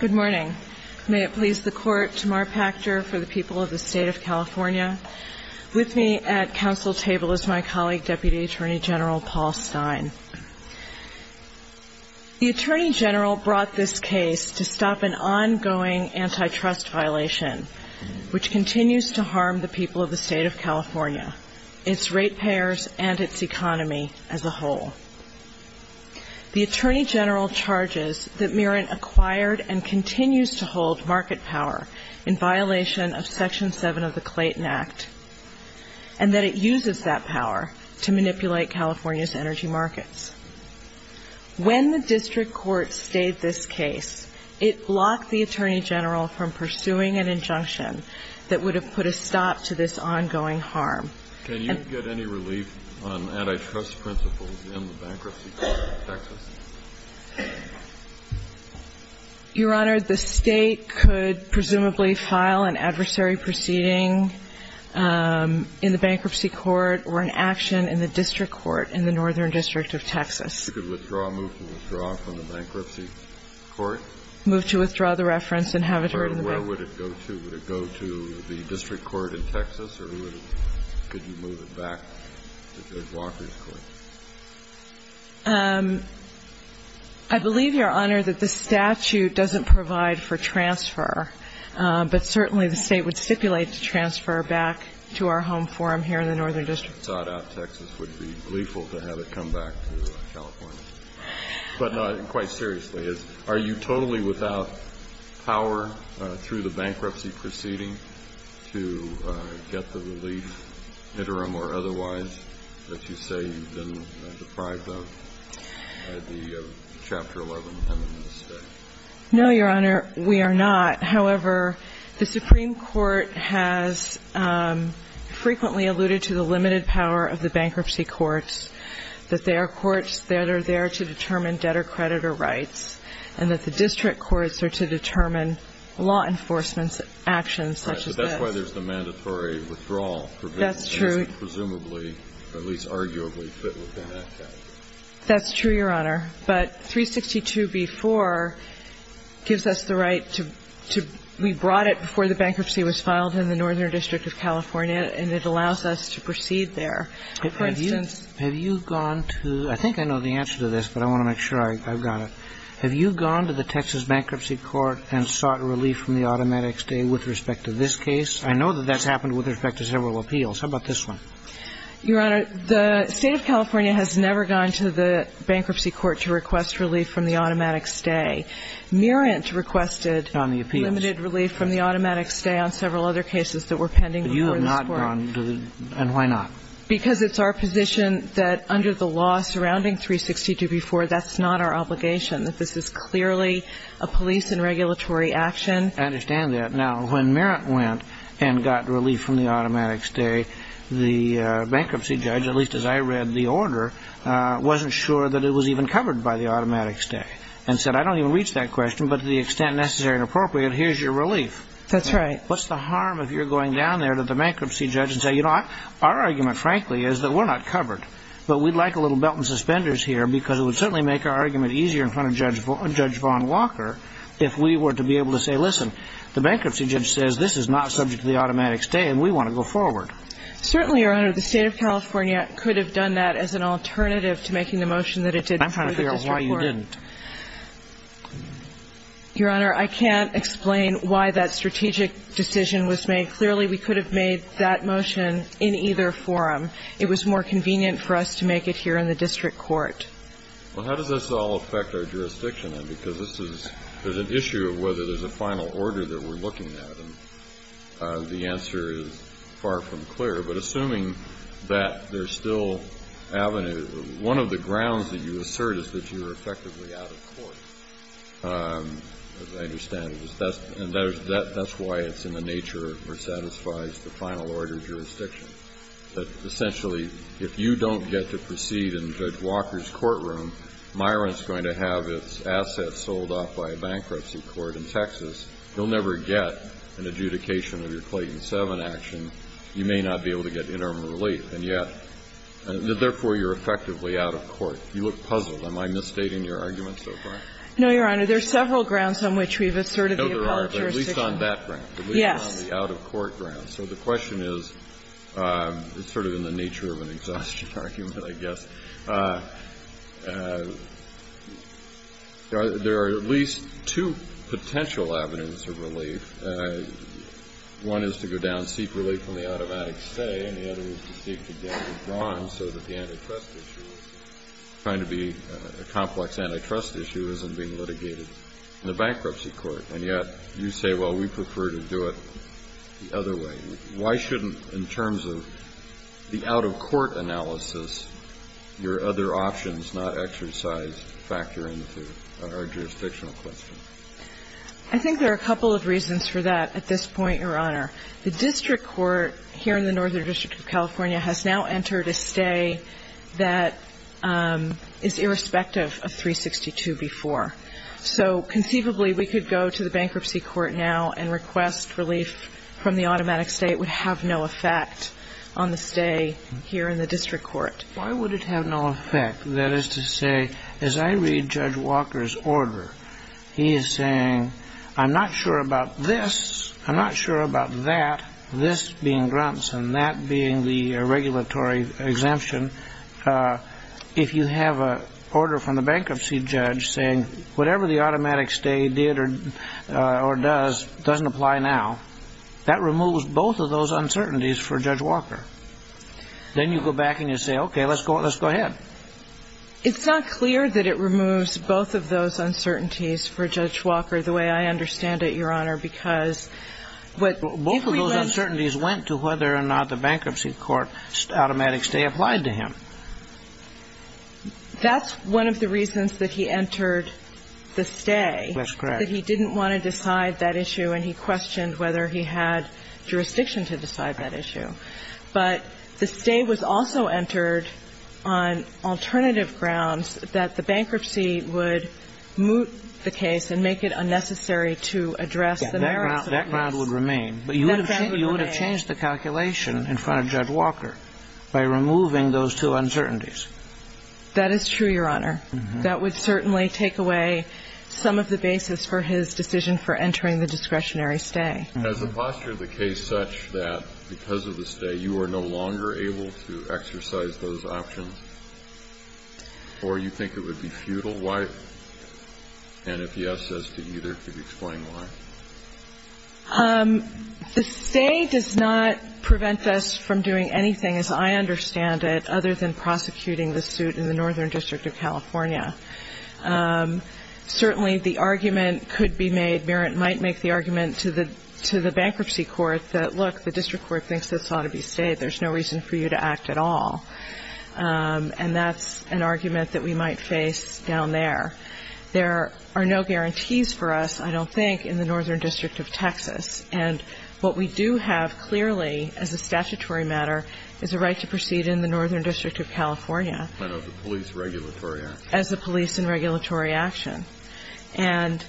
Good morning. May it please the Court, Tamar Pachter for the people of the State of California. With me at Council table is my colleague, Deputy Attorney General Paul Stein. The Attorney General brought this case to stop an ongoing antitrust violation, which continues to harm the people of the State of California, its ratepayers, and its economy as a whole. The Attorney General charges that Mirant acquired and continues to hold market power in violation of Section 7 of the Clayton Act, and that it uses that power to manipulate California's energy markets. When the District Court stayed this case, it blocked the Attorney General from pursuing an injunction that would have put a stop to this ongoing harm. Can you get any relief on antitrust principles in the Bankruptcy Court of Texas? Your Honor, the State could presumably file an adversary proceeding in the Bankruptcy Court or an action in the District Court in the Northern District of Texas. You could withdraw a move to withdraw from the Bankruptcy Court? Move to withdraw the reference and have it heard in the Bankruptcy Court. Where would it go to? Would it go to the District Court in Texas, or could you move it back to Judge Walker's court? I believe, Your Honor, that the statute doesn't provide for transfer, but certainly the State would stipulate to transfer back to our home forum here in the Northern District. It's thought out Texas would be gleeful to have it come back to California. But, no, quite seriously, are you totally without power through the bankruptcy proceeding to get the relief, interim or otherwise, that you say you've been deprived of at the Chapter 11 and in this case? No, Your Honor, we are not. However, the Supreme Court has frequently alluded to the limited power of the Bankruptcy Court to determine debtor-creditor rights and that the District Courts are to determine law enforcement actions such as this. Right. But that's why there's the mandatory withdrawal. That's true. Presumably, or at least arguably, fit within that category. That's true, Your Honor. But 362b-4 gives us the right to be brought it before the bankruptcy was filed in the Northern District of California, and it allows us to proceed there. For instance. Have you gone to – I think I know the answer to this, but I want to make sure I've got it. Have you gone to the Texas Bankruptcy Court and sought relief from the automatic stay with respect to this case? I know that that's happened with respect to several appeals. How about this one? Your Honor, the State of California has never gone to the Bankruptcy Court to request relief from the automatic stay. Merent requested limited relief from the automatic stay on several other cases that were pending before this Court. But you have not gone to the – and why not? Because it's our position that under the law surrounding 362b-4, that's not our obligation, that this is clearly a police and regulatory action. I understand that. Now, when Merent went and got relief from the automatic stay, the bankruptcy judge, at least as I read the order, wasn't sure that it was even covered by the automatic stay, and said, I don't even reach that question, but to the extent necessary and appropriate, here's your relief. That's right. What's the harm if you're going down there to the bankruptcy judge and say, you know, our argument, frankly, is that we're not covered, but we'd like a little belt and suspenders here because it would certainly make our argument easier in front of Judge Vaughn Walker if we were to be able to say, listen, the bankruptcy judge says this is not subject to the automatic stay and we want to go forward. Certainly, Your Honor, the State of California could have done that as an alternative to making the motion that it did through the district court. I'm trying to figure out why you didn't. Your Honor, I can't explain why that strategic decision was made. Clearly, we could have made that motion in either forum. It was more convenient for us to make it here in the district court. Well, how does this all affect our jurisdiction, then? Because this is an issue of whether there's a final order that we're looking at, and the answer is far from clear. But assuming that there's still avenue, one of the grounds that you assert is that you're effectively out of court, as I understand it, and that's why it's in the nature where it satisfies the final order jurisdiction, that essentially if you don't get to proceed in Judge Walker's courtroom, Myron's going to have its assets sold off by a bankruptcy court in Texas. He'll never get an adjudication of your Clayton 7 action. You may not be able to get interim relief, and yet, therefore, you're effectively out of court. You look puzzled. Am I misstating your argument so far? No, Your Honor. There's several grounds on which we've asserted the appellate jurisdiction. I know there are, but at least on that ground. Yes. At least on the out-of-court ground. So the question is, it's sort of in the nature of an exhaustion argument, I guess. There are at least two potential avenues of relief. One is to go down secretly from the automatic stay, and the other is to seek to get the case withdrawn so that the antitrust issue is trying to be a complex antitrust issue isn't being litigated in the bankruptcy court. And yet, you say, well, we prefer to do it the other way. Why shouldn't, in terms of the out-of-court analysis, your other options not exercise factor into our jurisdictional question? I think there are a couple of reasons for that at this point, Your Honor. The district court here in the Northern District of California has now entered a stay that is irrespective of 362 before. So conceivably, we could go to the bankruptcy court now and request relief from the automatic stay. It would have no effect on the stay here in the district court. Why would it have no effect? That is to say, as I read Judge Walker's order, he is saying, I'm not sure about this, I'm not sure about that, this being Grunson, that being the regulatory exemption. If you have an order from the bankruptcy judge saying whatever the automatic stay did or does doesn't apply now, that removes both of those uncertainties for Judge Walker. Then you go back and you say, okay, let's go ahead. It's not clear that it removes both of those uncertainties for Judge Walker the way I understand it, Your Honor, because what if we went to the bankruptcy court, automatic stay applied to him. That's one of the reasons that he entered the stay. That's correct. That he didn't want to decide that issue and he questioned whether he had jurisdiction to decide that issue. But the stay was also entered on alternative grounds that the bankruptcy would moot the That ground would remain. But you would have changed the calculation in front of Judge Walker by removing those two uncertainties. That is true, Your Honor. That would certainly take away some of the basis for his decision for entering the discretionary stay. Has the posture of the case such that because of the stay, you are no longer able to exercise those options? Or you think it would be futile? And if yes as to either, could you explain why? The stay does not prevent us from doing anything, as I understand it, other than prosecuting the suit in the Northern District of California. Certainly the argument could be made, Merritt might make the argument to the bankruptcy court that, look, the district court thinks this ought to be stayed. There's no reason for you to act at all. And that's an argument that we might face down there. There are no guarantees for us, I don't think, in the Northern District of Texas. And what we do have clearly as a statutory matter is a right to proceed in the Northern District of California. As a police regulatory action. As a police and regulatory action. And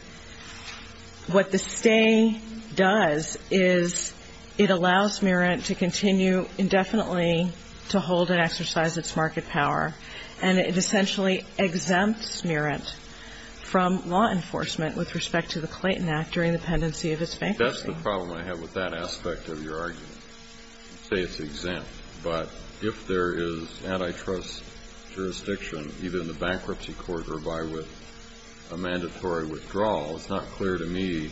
what the stay does is it allows Merritt to continue indefinitely to hold an office, to exercise its market power, and it essentially exempts Merritt from law enforcement with respect to the Clayton Act during the pendency of its bankruptcy. That's the problem I have with that aspect of your argument. You say it's exempt. But if there is antitrust jurisdiction, either in the bankruptcy court or by with a mandatory withdrawal, it's not clear to me.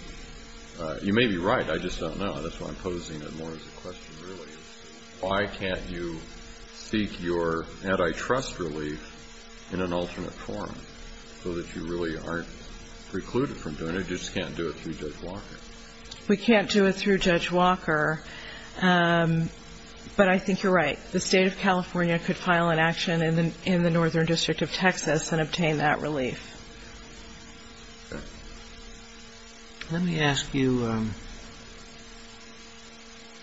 You may be right. I just don't know. That's why I'm posing it more as a question, really. Why can't you seek your antitrust relief in an alternate form so that you really aren't precluded from doing it? You just can't do it through Judge Walker. We can't do it through Judge Walker. But I think you're right. The State of California could file an action in the Northern District of Texas and obtain that relief. Let me ask you ñ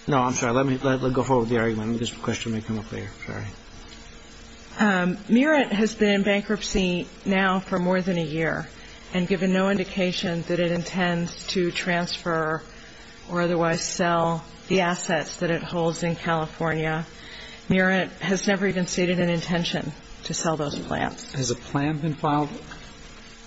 no, I'm sorry. Let me go forward with the argument. This question may come up later. Sorry. Merritt has been in bankruptcy now for more than a year, and given no indication that it intends to transfer or otherwise sell the assets that it holds in California, Merritt has never even stated an intention to sell those plants. Has a plan been filed?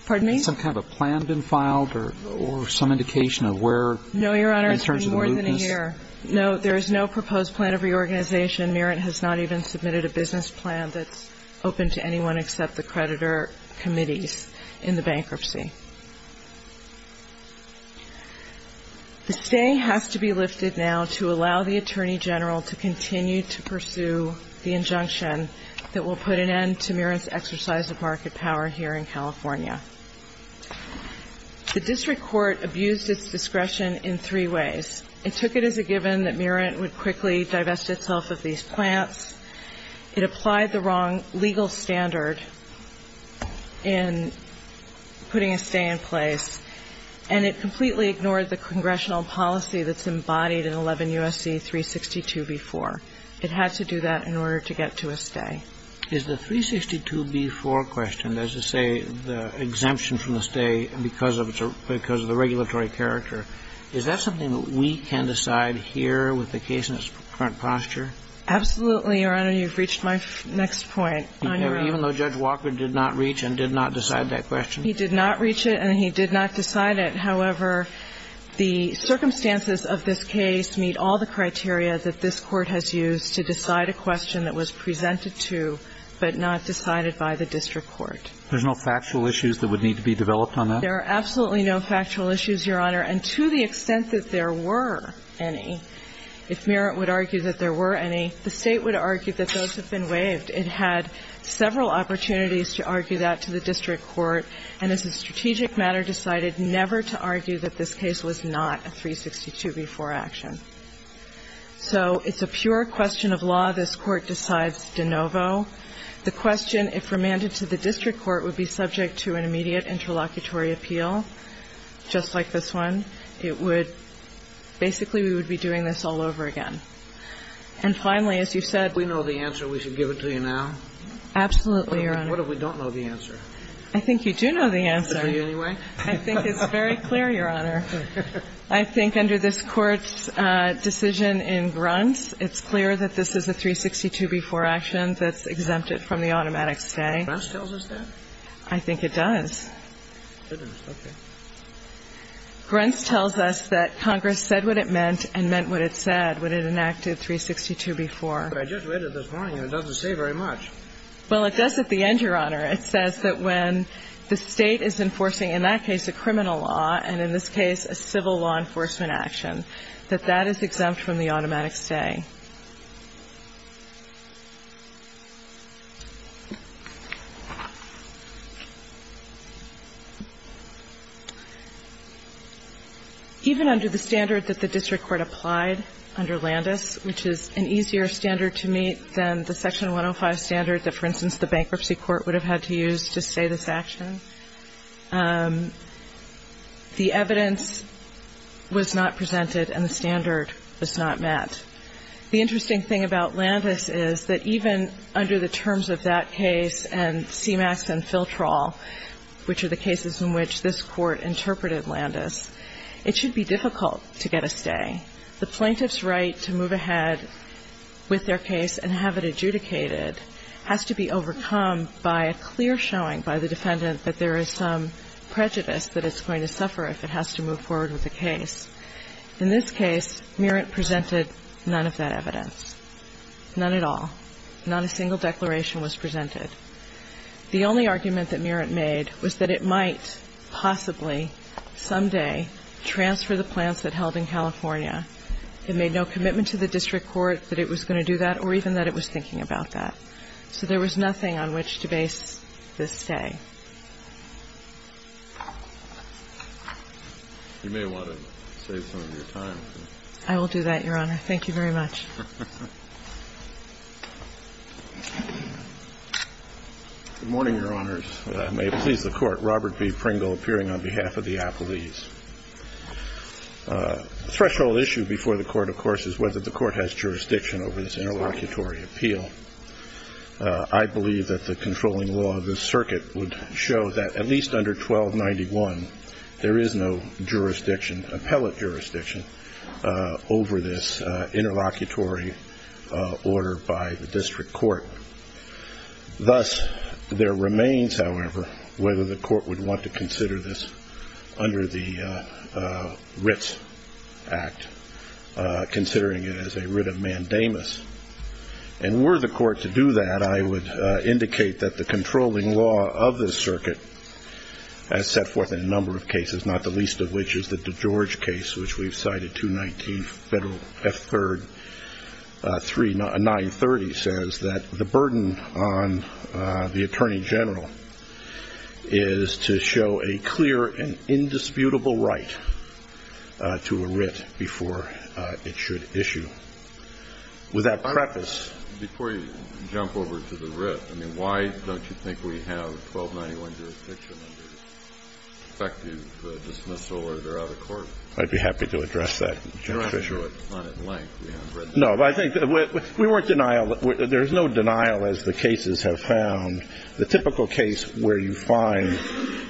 Pardon me? Has some kind of a plan been filed or some indication of where in terms of the movements? No, Your Honor. It's been more than a year. No, there is no proposed plan of reorganization. Merritt has not even submitted a business plan that's open to anyone except the creditor committees in the bankruptcy. The say has to be lifted now to allow the Attorney General to continue to pursue the injunction that will put an end to Merritt's exercise of market power here in California. The district court abused its discretion in three ways. It took it as a given that Merritt would quickly divest itself of these plants. It applied the wrong legal standard in putting a stay in place. And it completely ignored the congressional policy that's embodied in 11 U.S.C. 362b4. It had to do that in order to get to a stay. Is the 362b4 question, as you say, the exemption from the stay because of the regulatory character, is that something that we can decide here with the case in its current posture? Absolutely, Your Honor. You've reached my next point. Even though Judge Walker did not reach and did not decide that question? He did not reach it and he did not decide it. However, the circumstances of this case meet all the criteria that this Court has used to decide a question that was presented to but not decided by the district court. There's no factual issues that would need to be developed on that? There are absolutely no factual issues, Your Honor. And to the extent that there were any, if Merritt would argue that there were any, the State would argue that those have been waived. It had several opportunities to argue that to the district court, and as a strategic matter, decided never to argue that this case was not a 362b4 action. So it's a pure question of law. This Court decides de novo. The question, if remanded to the district court, would be subject to an immediate interlocutory appeal, just like this one. It would – basically, we would be doing this all over again. And finally, as you said – We know the answer. We should give it to you now? Absolutely, Your Honor. What if we don't know the answer? I think you do know the answer. I think it's very clear, Your Honor. I think under this Court's decision in Gruntz, it's clear that this is a 362b4 action that's exempted from the automatic stay. Gruntz tells us that? I think it does. It does. Okay. Gruntz tells us that Congress said what it meant and meant what it said when it enacted 362b4. But I just read it this morning, and it doesn't say very much. Well, it does at the end, Your Honor. It says that when the State is enforcing, in that case, a criminal law, and in this case, a civil law enforcement action, that that is exempt from the automatic stay. Even under the standard that the district court applied under Landis, which is an easier standard to meet than the Section 105 standard that, for instance, the district court had to use to say this action, the evidence was not presented and the standard was not met. The interesting thing about Landis is that even under the terms of that case and CMAX and Filtrol, which are the cases in which this Court interpreted Landis, it should be difficult to get a stay. The plaintiff's right to move ahead with their case and have it adjudicated has to be overcome by a clear showing by the defendant that there is some prejudice that it's going to suffer if it has to move forward with the case. In this case, Merritt presented none of that evidence, none at all. Not a single declaration was presented. The only argument that Merritt made was that it might possibly someday transfer the plans that held in California. It made no commitment to the district court that it was going to do that or even that it was thinking about that. So there was nothing on which to base this stay. You may want to save some of your time. I will do that, Your Honor. Thank you very much. Good morning, Your Honors. May it please the Court. Robert B. Pringle appearing on behalf of the Appellees. The threshold issue before the Court, of course, is whether the Court has jurisdiction over this interlocutory appeal. I believe that the controlling law of this circuit would show that at least under 1291, there is no jurisdiction, appellate jurisdiction, over this interlocutory order by the district court. Thus, there remains, however, whether the Court would want to consider this under the Writs Act, considering it as a writ of mandamus. And were the Court to do that, I would indicate that the controlling law of this circuit, as set forth in a number of cases, not the least of which is the DeGeorge case, which we've cited, 219 F3, 930, says that the burden on the Attorney General is to show a clear and indisputable right to a writ before it should issue. With that preface. Before you jump over to the writ, I mean, why don't you think we have 1291 jurisdiction under effective dismissal order out of court? I'd be happy to address that, Your Honor. I'm not sure it's not in length. We haven't read that. No, but I think we weren't in denial. There's no denial, as the cases have found. The typical case where you find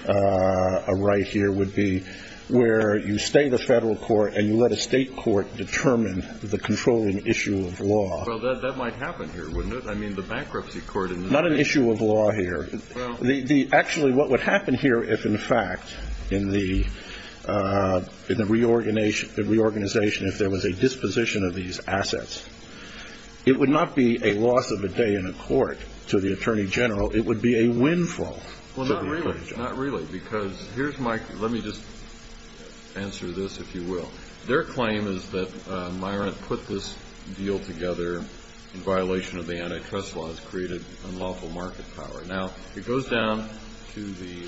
a writ here would be where you state a federal court and you let a state court determine the controlling issue of law. Well, that might happen here, wouldn't it? I mean, the bankruptcy court in this case. Not an issue of law here. Actually, what would happen here if, in fact, in the reorganization, if there was a disposition of these assets, it would not be a loss of a day in a court to the Attorney General. It would be a win for the Attorney General. Well, not really. Not really, because here's my question. Let me just answer this, if you will. Their claim is that Myrant put this deal together in violation of the antitrust laws, created unlawful market power. Now, it goes down to the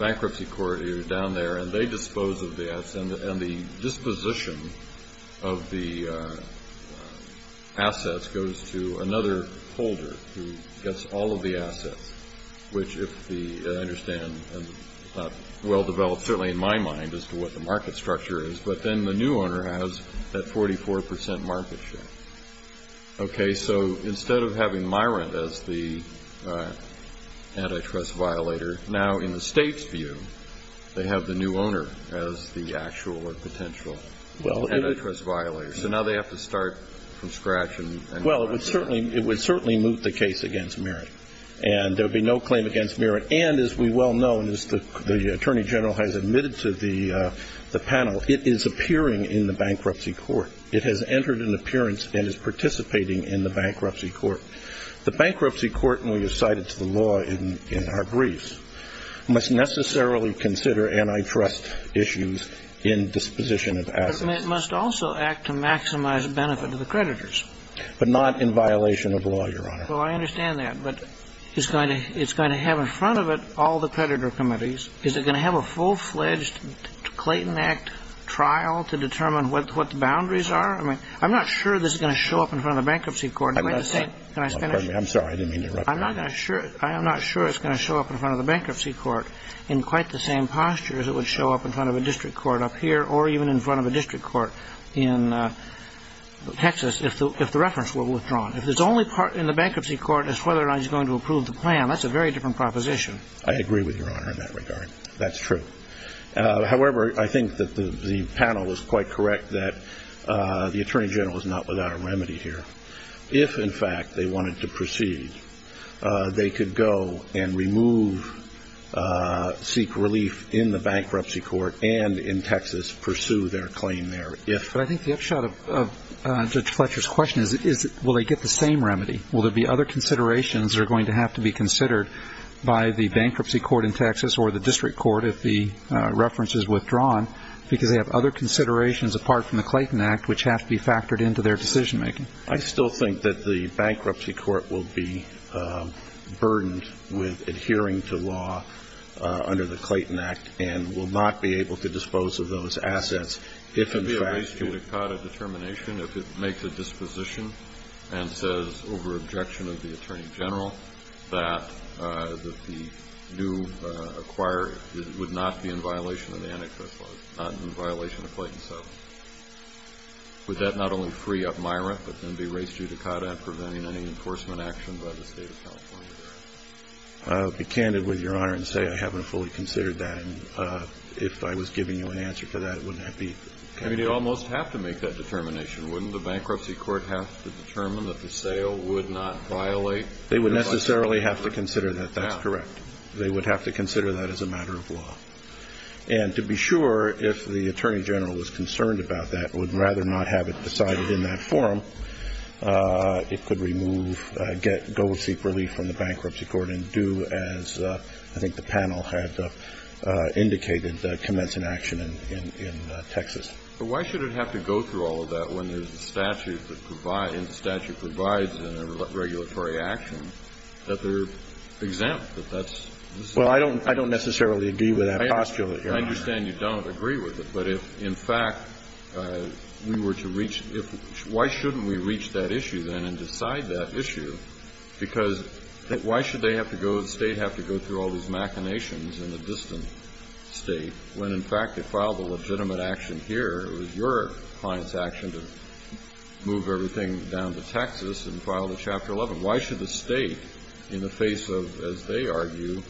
bankruptcy court down there, and they dispose of the assets, and the disposition of the assets goes to another holder who gets all of the assets, which, if I understand well-developed, certainly in my mind, as to what the market structure is. But then the new owner has that 44% market share. Okay, so instead of having Myrant as the antitrust violator, now in the state's view they have the new owner as the actual or potential antitrust violator. So now they have to start from scratch. Well, it would certainly move the case against Myrant, and there would be no claim against Myrant. And, as we well know, as the Attorney General has admitted to the panel, it is appearing in the bankruptcy court. It has entered an appearance and is participating in the bankruptcy court. The bankruptcy court, and we have cited to the law in our brief, must necessarily consider antitrust issues in disposition of assets. But it must also act to maximize benefit to the creditors. But not in violation of law, Your Honor. Well, I understand that. But it's going to have in front of it all the creditor committees. Is it going to have a full-fledged Clayton Act trial to determine what the boundaries are? I mean, I'm not sure this is going to show up in front of the bankruptcy court. Can I finish? I'm sorry. I didn't mean to interrupt you. I'm not sure it's going to show up in front of the bankruptcy court in quite the same posture as it would show up in front of a district court up here or even in front of a district court in Texas if the reference were withdrawn. If it's only in the bankruptcy court as to whether or not he's going to approve the plan, that's a very different proposition. I agree with Your Honor in that regard. That's true. However, I think that the panel is quite correct that the Attorney General is not without a remedy here. If, in fact, they wanted to proceed, they could go and remove, seek relief in the bankruptcy court and in Texas pursue their claim there if. But I think the upshot of Judge Fletcher's question is will they get the same remedy? Will there be other considerations that are going to have to be considered by the bankruptcy court in Texas or the district court if the reference is withdrawn because they have other considerations apart from the Clayton Act which have to be factored into their decision-making? I still think that the bankruptcy court will be burdened with adhering to law under the Clayton Act and will not be able to dispose of those assets if, in fact, he would be able to. It would be a risk to NICADA determination if it makes a disposition and says over objection of the Attorney General that the new acquirer would not be in violation of the antitrust law, not in violation of Clayton 7. Would that not only free up Myra, but then be a risk to NICADA in preventing any enforcement action by the State of California? I'll be candid with Your Honor and say I haven't fully considered that. And if I was giving you an answer to that, wouldn't that be? I mean, they almost have to make that determination. Wouldn't the bankruptcy court have to determine that the sale would not violate the antitrust law? They would necessarily have to consider that. They would have to consider that as a matter of law. And to be sure, if the Attorney General was concerned about that, would rather not have it decided in that forum, it could remove, get, go seek relief from the bankruptcy court and do, as I think the panel had indicated, commence an action in Texas. But why should it have to go through all of that when there's a statute that provides and the statute provides in a regulatory action that they're exempt, that that's? Well, I don't necessarily agree with that postulate, Your Honor. I understand you don't agree with it. But if, in fact, we were to reach why shouldn't we reach that issue then and decide that issue, because why should they have to go, the State have to go through all these machinations in a distant State when, in fact, it filed a legitimate action here, it was your client's action to move everything down to Texas and file the Chapter 11? Why should the State, in the face of, as they argue,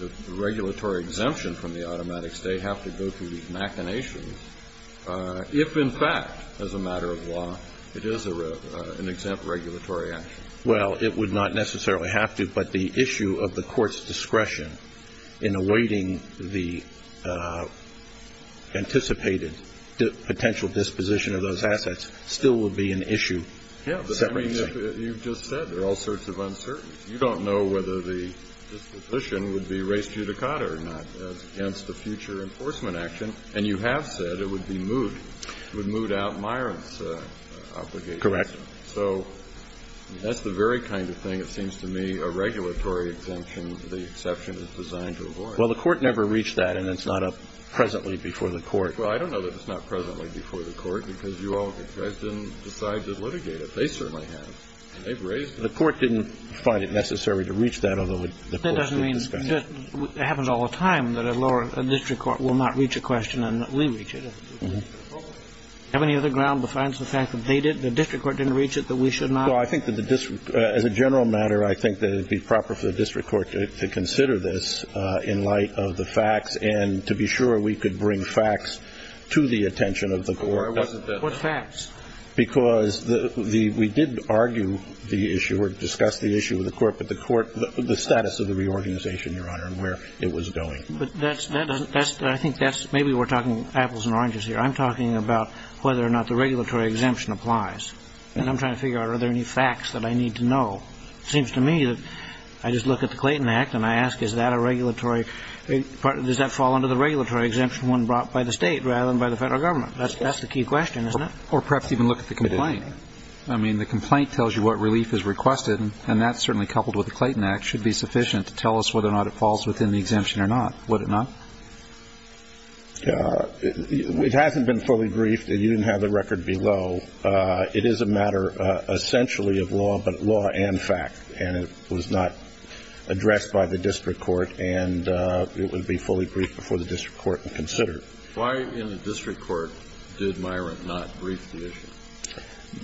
the regulatory exemption from the automatic State have to go through these machinations if, in fact, as a matter of law, it is an exempt regulatory action? Well, it would not necessarily have to, but the issue of the Court's discretion in awaiting the anticipated potential disposition of those assets still would be an issue separately. Yeah, but I mean, you've just said there are all sorts of uncertainties. You don't know whether the disposition would be res judicata or not. That's against the future enforcement action. And you have said it would be moved. It would move out Myron's obligations. Correct. So that's the very kind of thing that seems to me a regulatory exemption, the exception that's designed to avoid. Well, the Court never reached that, and it's not up presently before the Court. Well, I don't know that it's not presently before the Court because you all, the The Court didn't find it necessary to reach that. That doesn't mean it happens all the time that a district court will not reach a question and we reach it. Do you have any other ground besides the fact that the district court didn't reach it that we should not? Well, I think that as a general matter, I think that it would be proper for the district court to consider this in light of the facts and to be sure we could bring facts to the attention of the Court. What facts? Because we did argue the issue or discuss the issue with the Court, but the status of the reorganization, Your Honor, and where it was going. But I think that's maybe we're talking apples and oranges here. I'm talking about whether or not the regulatory exemption applies. And I'm trying to figure out are there any facts that I need to know. It seems to me that I just look at the Clayton Act and I ask is that a regulatory Does that fall under the regulatory exemption when brought by the state rather than by the federal government? That's the key question, isn't it? Or perhaps even look at the complaint. I mean, the complaint tells you what relief is requested, and that's certainly coupled with the Clayton Act. It should be sufficient to tell us whether or not it falls within the exemption or not, would it not? It hasn't been fully briefed. You didn't have the record below. It is a matter essentially of law, but law and fact. And it was not addressed by the district court, and it would be fully briefed before the district court and considered. Why in the district court did Myron not brief the issue?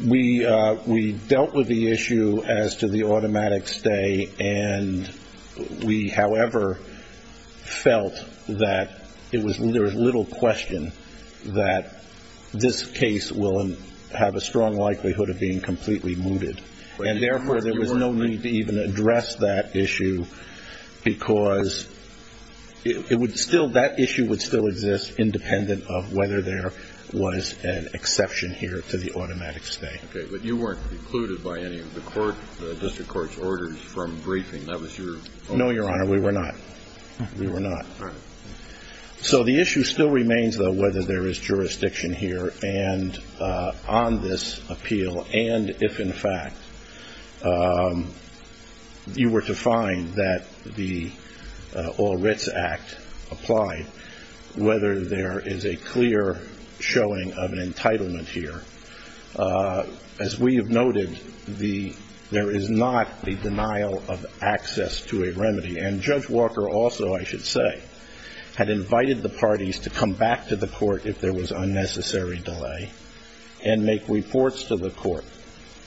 We dealt with the issue as to the automatic stay, and we, however, felt that there was little question that this case will have a strong likelihood of being completely mooted. And, therefore, there was no need to even address that issue because it would still, that issue would still exist independent of whether there was an exception here to the automatic stay. Okay. But you weren't precluded by any of the court, the district court's orders from briefing. That was your... No, Your Honor. We were not. We were not. All right. So the issue still remains, though, whether there is jurisdiction here and on this whether there is a clear showing of an entitlement here. As we have noted, there is not the denial of access to a remedy. And Judge Walker also, I should say, had invited the parties to come back to the court if there was unnecessary delay and make reports to the court.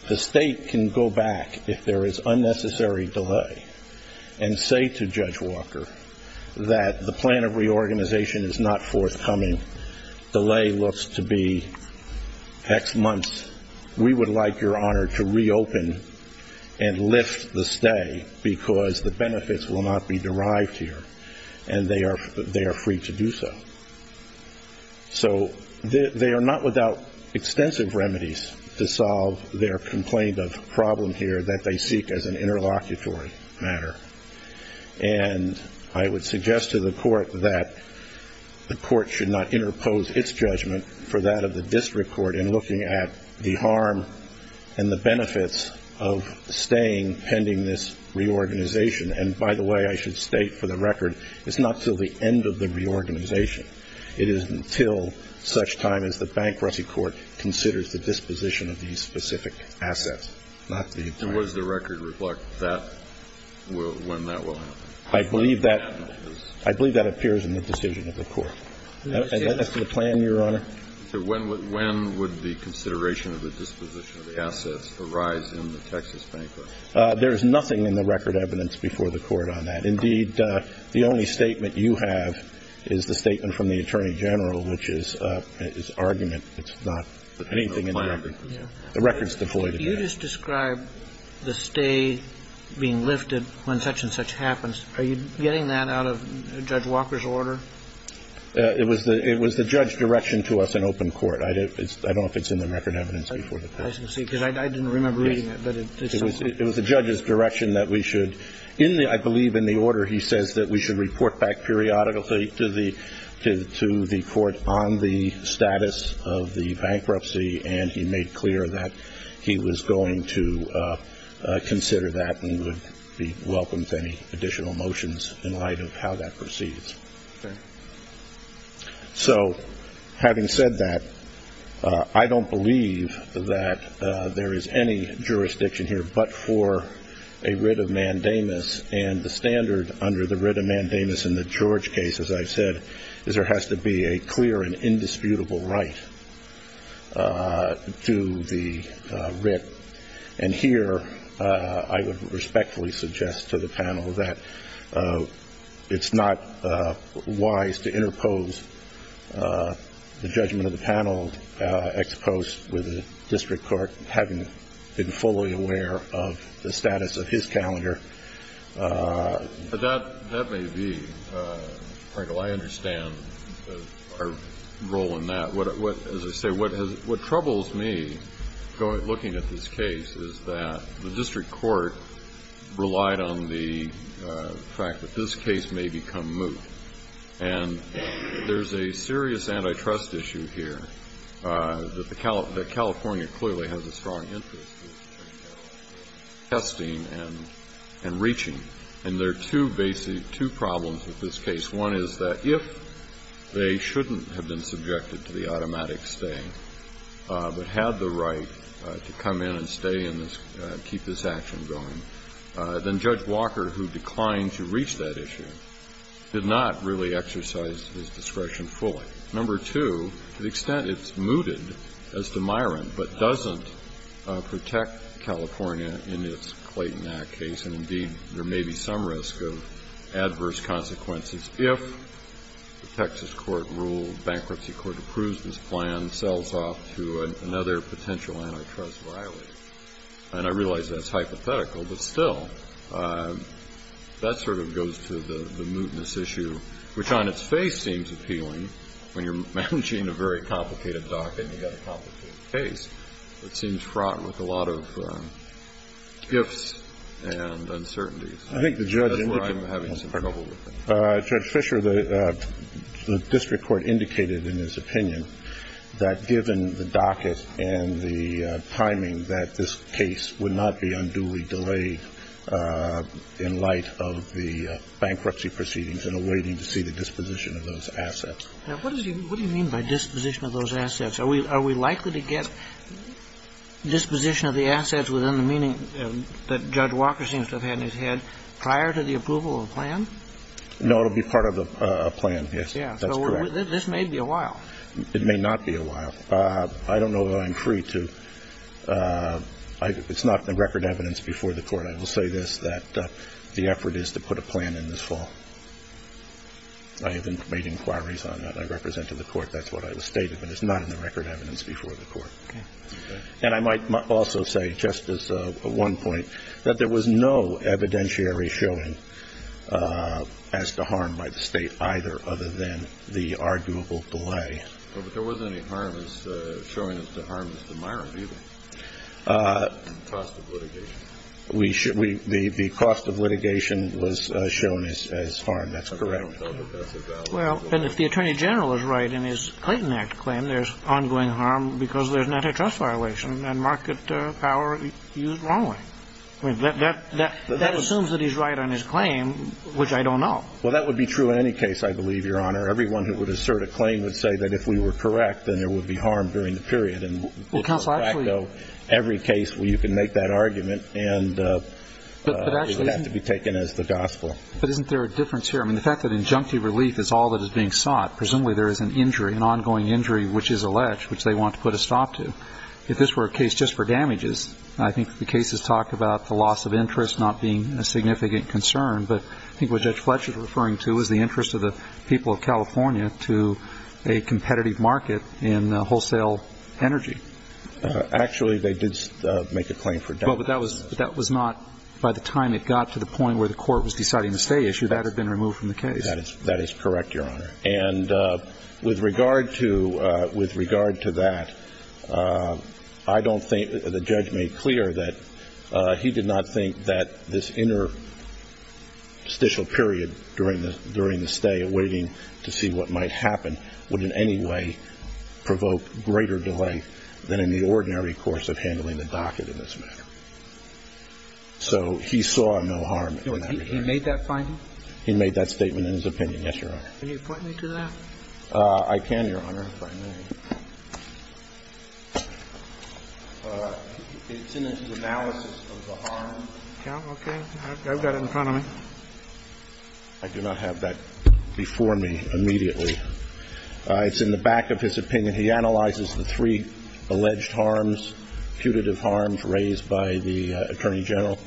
The State can go back if there is unnecessary delay and say to Judge Walker that the plan of reorganization is not forthcoming. Delay looks to be X months. We would like, Your Honor, to reopen and lift the stay because the benefits will not be derived here and they are free to do so. So they are not without extensive remedies to solve their complaint of problem here that they seek as an interlocutory matter. And I would suggest to the court that the court should not interpose its judgment for that of the district court in looking at the harm and the benefits of staying pending this reorganization. And, by the way, I should state for the record, it's not until the end of the reorganization. It is until such time as the bankruptcy court considers the disposition of these specific assets, not the... I believe that appears in the decision of the court. And that's the plan, Your Honor. When would the consideration of the disposition of the assets arise in the Texas bankruptcy? There is nothing in the record evidence before the court on that. Indeed, the only statement you have is the statement from the Attorney General, which is argument. It's not anything in the record. The record is devoid of that. You just described the stay being lifted when such and such happens. Are you getting that out of Judge Walker's order? It was the judge's direction to us in open court. I don't know if it's in the record evidence before the court. I didn't remember reading it. It was the judge's direction that we should. I believe in the order he says that we should report back periodically to the court on the status of the bankruptcy, and he made clear that he was going to consider that and would be welcome to any additional motions in light of how that proceeds. So having said that, I don't believe that there is any jurisdiction here but for a writ of mandamus, and the standard under the writ of mandamus in the George case, as I've said, is there has to be a clear and indisputable right to the writ. And here I would respectfully suggest to the panel that it's not wise to interpose the judgment of the panel ex post with the district court having been fully aware of the status of his calendar. But that may be. Michael, I understand our role in that. As I say, what troubles me looking at this case is that the district court relied on the fact that this case may become moot. And there's a serious antitrust issue here that California clearly has a strong interest in testing and reaching. And there are two basic, two problems with this case. One is that if they shouldn't have been subjected to the automatic stay, but had the right to come in and stay and keep this action going, then Judge Walker, who declined to reach that issue, did not really exercise his discretion fully. Number two, to the extent it's mooted as demirant, but doesn't protect California in its Clayton Act case, and indeed there may be some risk of adverse consequences if the Texas court rule, bankruptcy court approves this plan, sells off to another potential antitrust violator. And I realize that's hypothetical, but still, that sort of goes to the mootness issue, which on its face seems appealing when you're managing a very complicated docket and you've got a complicated case. It seems fraught with a lot of gifts and uncertainties. That's where I'm having some trouble with it. Judge Fisher, the district court indicated in its opinion that given the docket and the timing that this case would not be unduly delayed in light of the bankruptcy proceedings and awaiting to see the disposition of those assets. Now, what do you mean by disposition of those assets? Are we likely to get disposition of the assets within the meaning that Judge Walker seems to have had in his head prior to the approval of the plan? No, it will be part of a plan, yes. Yes. That's correct. So this may be a while. It may not be a while. I don't know that I'm free to. It's not the record evidence before the Court. I will say this, that the effort is to put a plan in this fall. I have made inquiries on that. I represent to the Court that's what I stated, but it's not in the record evidence before the Court. Okay. And I might also say, Justice, at one point, that there was no evidentiary showing as to harm by the State either other than the arguable delay. But there wasn't any showing as to harm as to my review. The cost of litigation. The cost of litigation was shown as harm. That's correct. Well, and if the Attorney General is right in his Clayton Act claim, there's ongoing harm because there's an antitrust violation and market power used wrongly. That assumes that he's right on his claim, which I don't know. Well, that would be true in any case, I believe, Your Honor. Everyone who would assert a claim would say that if we were correct, then there would be harm during the period. Every case where you can make that argument and it would have to be taken as the gospel. But isn't there a difference here? I mean, the fact that injunctive relief is all that is being sought, presumably there is an injury, an ongoing injury, which is alleged, which they want to put a stop to. If this were a case just for damages, I think the cases talk about the loss of interest not being a significant concern. But I think what Judge Fletcher is referring to is the interest of the people of California to a competitive market in wholesale energy. Actually, they did make a claim for damages. But that was not, by the time it got to the point where the court was deciding the stay issue, that had been removed from the case. That is correct, Your Honor. And with regard to that, I don't think, the judge made clear that he did not think that this interstitial period during the stay awaiting to see what might happen would in any way provoke greater delay than in the ordinary course of handling the docket in this matter. So he saw no harm in that regard. He made that finding? He made that statement in his opinion, yes, Your Honor. Can you point me to that? I can, Your Honor, if I may. It's in his analysis of the harm. Okay. I've got it in front of me. I do not have that before me immediately. It's in the back of his opinion. He analyzes the three alleged harms, putative harms raised by the Attorney General.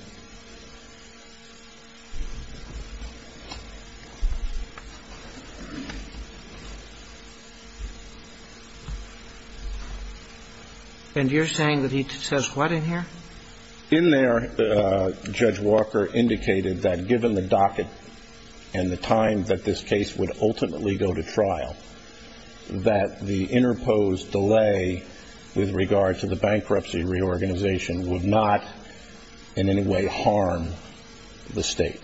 And you're saying that he says what in here? In there, Judge Walker indicated that given the docket and the time that this case would ultimately go to trial, that the interposed delay with regard to the bankruptcy reorganization would not in any way harm the State.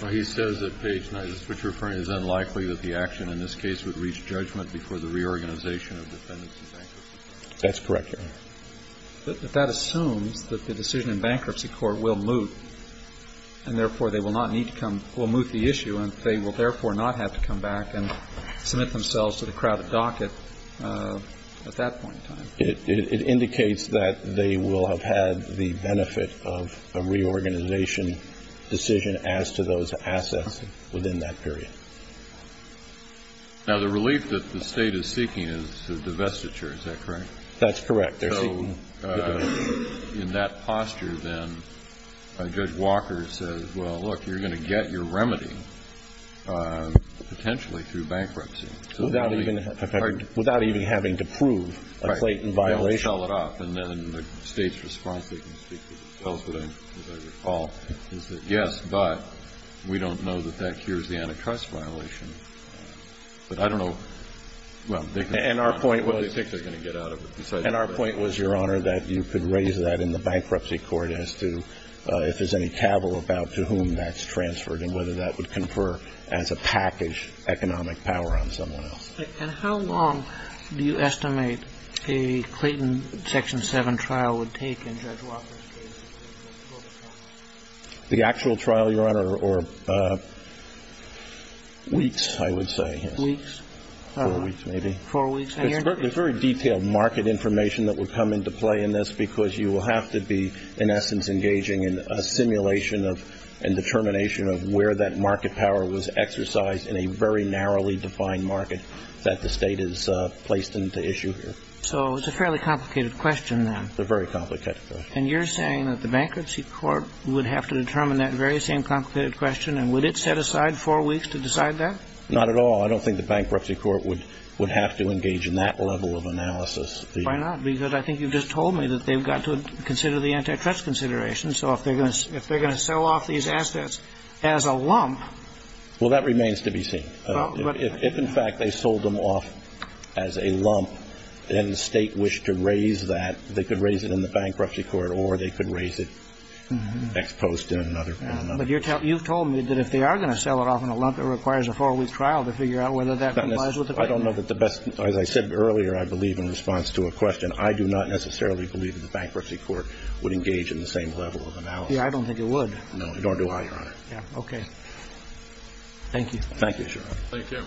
Well, he says that Page 9, which is referring to as unlikely that the action in this case would reach judgment before the reorganization of defendants and bankers. That's correct, Your Honor. But that assumes that the decision in bankruptcy court will move and therefore they will not need to come, will move the issue and they will therefore not have to come back and submit themselves to the crowded docket at that point in time. It indicates that they will have had the benefit of a reorganization decision as to those assets within that period. Now, the relief that the State is seeking is divestiture. Is that correct? That's correct. They're seeking divestiture. So in that posture, then, Judge Walker says, well, look, you're going to get your remedy potentially through bankruptcy. Without even having to prove a Clayton violation. Right. You don't sell it off. And then the State's response, as I recall, is that, but we don't know that that cures the anti-cost violation. But I don't know, well, they can find out what they think they're going to get out of it. And our point was, Your Honor, that you could raise that in the bankruptcy court as to if there's any cavil about to whom that's transferred and whether that would confer as a package economic power on someone else. And how long do you estimate a Clayton Section 7 trial would take in Judge Walker's case? The actual trial, Your Honor, or weeks, I would say. Weeks? Four weeks, maybe. Four weeks. There's very detailed market information that would come into play in this because you will have to be, in essence, engaging in a simulation and determination of where that market power was exercised in a very narrowly defined market that the State has placed into issue here. So it's a fairly complicated question, then. A very complicated question. And you're saying that the bankruptcy court would have to determine that very same complicated question? And would it set aside four weeks to decide that? Not at all. I don't think the bankruptcy court would have to engage in that level of analysis. Why not? Because I think you just told me that they've got to consider the antitrust considerations. So if they're going to sell off these assets as a lump. Well, that remains to be seen. If, in fact, they sold them off as a lump and the State wished to raise that, they could raise it in the bankruptcy court or they could raise it next post in another. But you've told me that if they are going to sell it off in a lump, it requires a four-week trial to figure out whether that complies with the bankruptcy. I don't know that the best. As I said earlier, I believe in response to a question, I do not necessarily believe that the bankruptcy court would engage in the same level of analysis. I don't think it would. No, it don't do either, Your Honor. Okay. Thank you. Thank you, Your Honor. Thank you.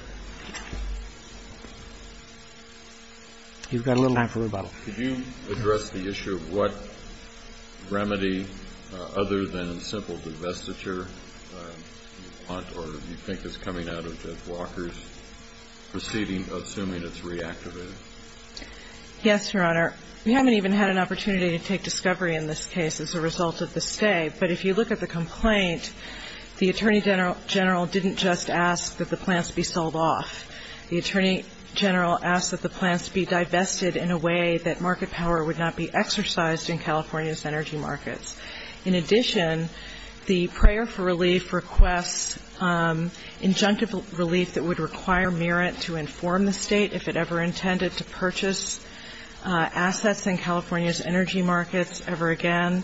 You've got a little time for rebuttal. Could you address the issue of what remedy other than simple divestiture you want or you think is coming out of Judge Walker's proceeding, assuming it's reactivated? Yes, Your Honor. We haven't even had an opportunity to take discovery in this case as a result of the stay. But if you look at the complaint, the Attorney General didn't just ask that the plants be sold off. The Attorney General asked that the plants be divested in a way that market power would not be exercised in California's energy markets. In addition, the prayer for relief requests injunctive relief that would require Merit to inform the State if it ever intended to purchase assets in California's energy markets ever again.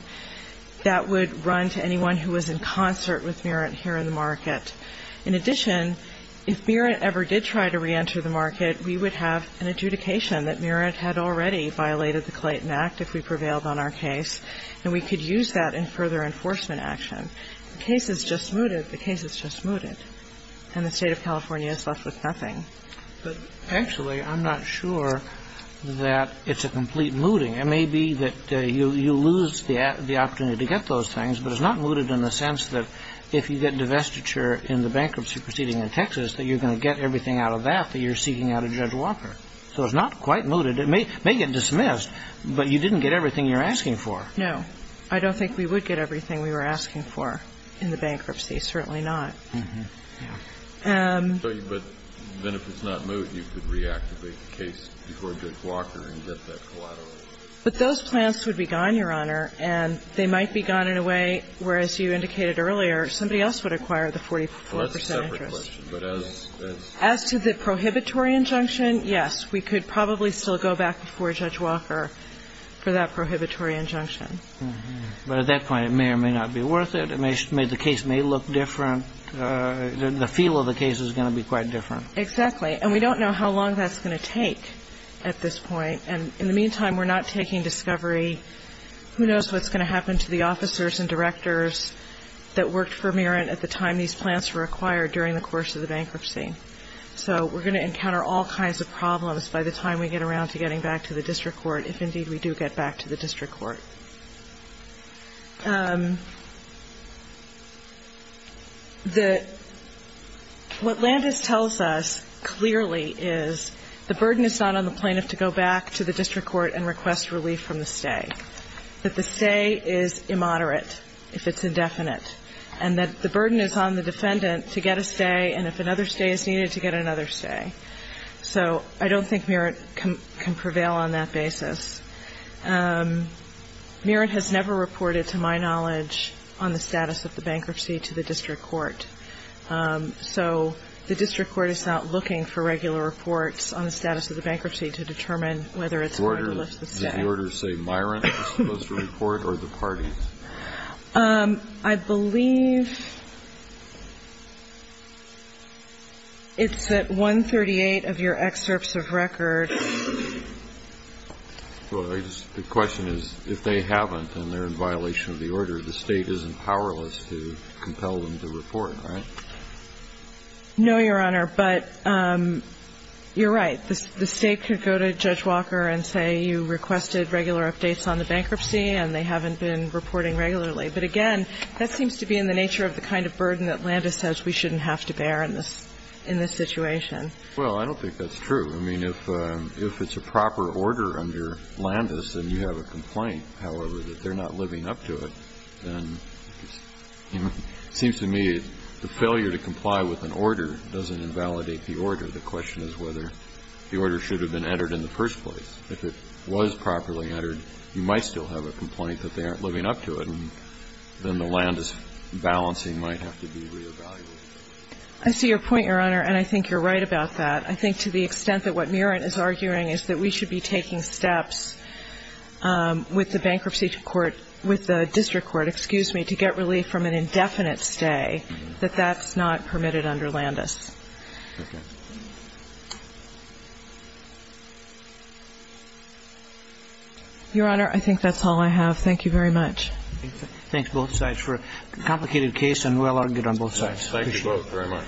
That would run to anyone who was in concert with Merit here in the market. In addition, if Merit ever did try to reenter the market, we would have an adjudication that Merit had already violated the Clayton Act if we prevailed on our case, and we could use that in further enforcement action. The case is just mooted. The case is just mooted. And the State of California is left with nothing. But actually, I'm not sure that it's a complete mooting. It may be that you lose the opportunity to get those things, but it's not mooted in the sense that if you get divestiture in the bankruptcy proceeding in Texas, that you're going to get everything out of that that you're seeking out of Judge Walker. So it's not quite mooted. It may get dismissed, but you didn't get everything you're asking for. No. I don't think we would get everything we were asking for in the bankruptcy. Certainly not. But then if it's not moot, you could reactivate the case before Judge Walker and get that collateral. But those plants would be gone, Your Honor, and they might be gone in a way where as you indicated earlier, somebody else would acquire the 44 percent interest. Well, that's a separate question. But as to the prohibitory injunction, yes, we could probably still go back before Judge Walker for that prohibitory injunction. But at that point, it may or may not be worth it. The case may look different. The feel of the case is going to be quite different. Exactly. And we don't know how long that's going to take at this point. And in the meantime, we're not taking discovery. Who knows what's going to happen to the officers and directors that worked for Merent at the time these plants were acquired during the course of the bankruptcy. So we're going to encounter all kinds of problems by the time we get around to getting back to the district court, if indeed we do get back to the district court. What Landis tells us clearly is the burden is not on the plaintiff to go back to the district court. The burden is on the defendant to get a stay. That the stay is immoderate if it's indefinite. And that the burden is on the defendant to get a stay, and if another stay is needed to get another stay. So I don't think Merent can prevail on that basis. Merent has never reported, to my knowledge, on the status of the bankruptcy to the district court. So the district court is not looking for regular reports on the status of the bankruptcy to determine whether it's hard to lift the stay. Does the order say Merent is supposed to report, or the parties? I believe it's at 138 of your excerpts of record. The question is, if they haven't and they're in violation of the order, the state isn't powerless to compel them to report, right? No, Your Honor. But you're right. The state could go to Judge Walker and say you requested regular updates on the bankruptcy and they haven't been reporting regularly. But, again, that seems to be in the nature of the kind of burden that Landis says we shouldn't have to bear in this situation. Well, I don't think that's true. I mean, if it's a proper order under Landis and you have a complaint, however, that they're not living up to it, then it seems to me the failure to comply with an order doesn't invalidate the order. The question is whether the order should have been entered in the first place. If it was properly entered, you might still have a complaint that they aren't living up to it. And then the Landis balancing might have to be reevaluated. I see your point, Your Honor, and I think you're right about that. I think to the extent that what Merent is arguing is that we should be taking steps with the bankruptcy court, with the district court, excuse me, to get relief from an indefinite stay, that that's not permitted under Landis. Okay. Your Honor, I think that's all I have. Thank you very much. Thanks, both sides, for a complicated case, and well argued on both sides. Thank you both very much.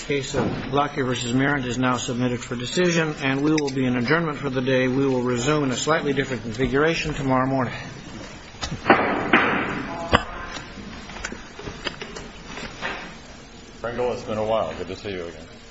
The case of Lockyer v. Merent is now submitted for decision, and we will be in adjournment for the day. We will resume in a slightly different configuration tomorrow morning. Thank you, Your Honor. Pringle, it's been a while. Good to see you again.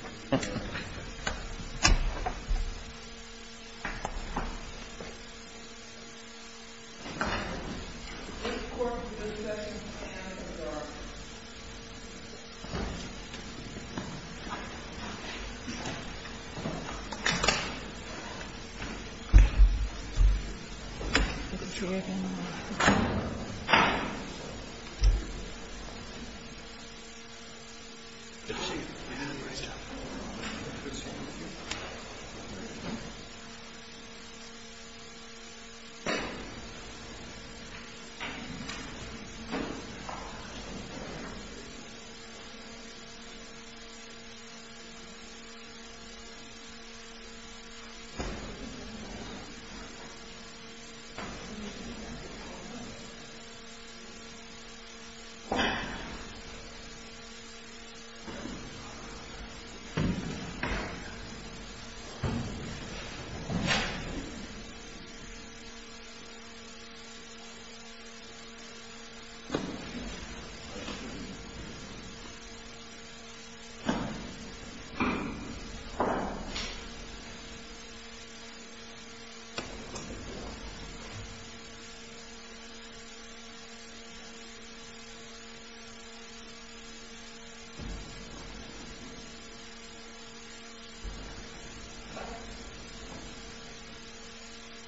Good to see you again. Good to see you again. Good to see you again. Good to see you again. Good to see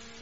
you again.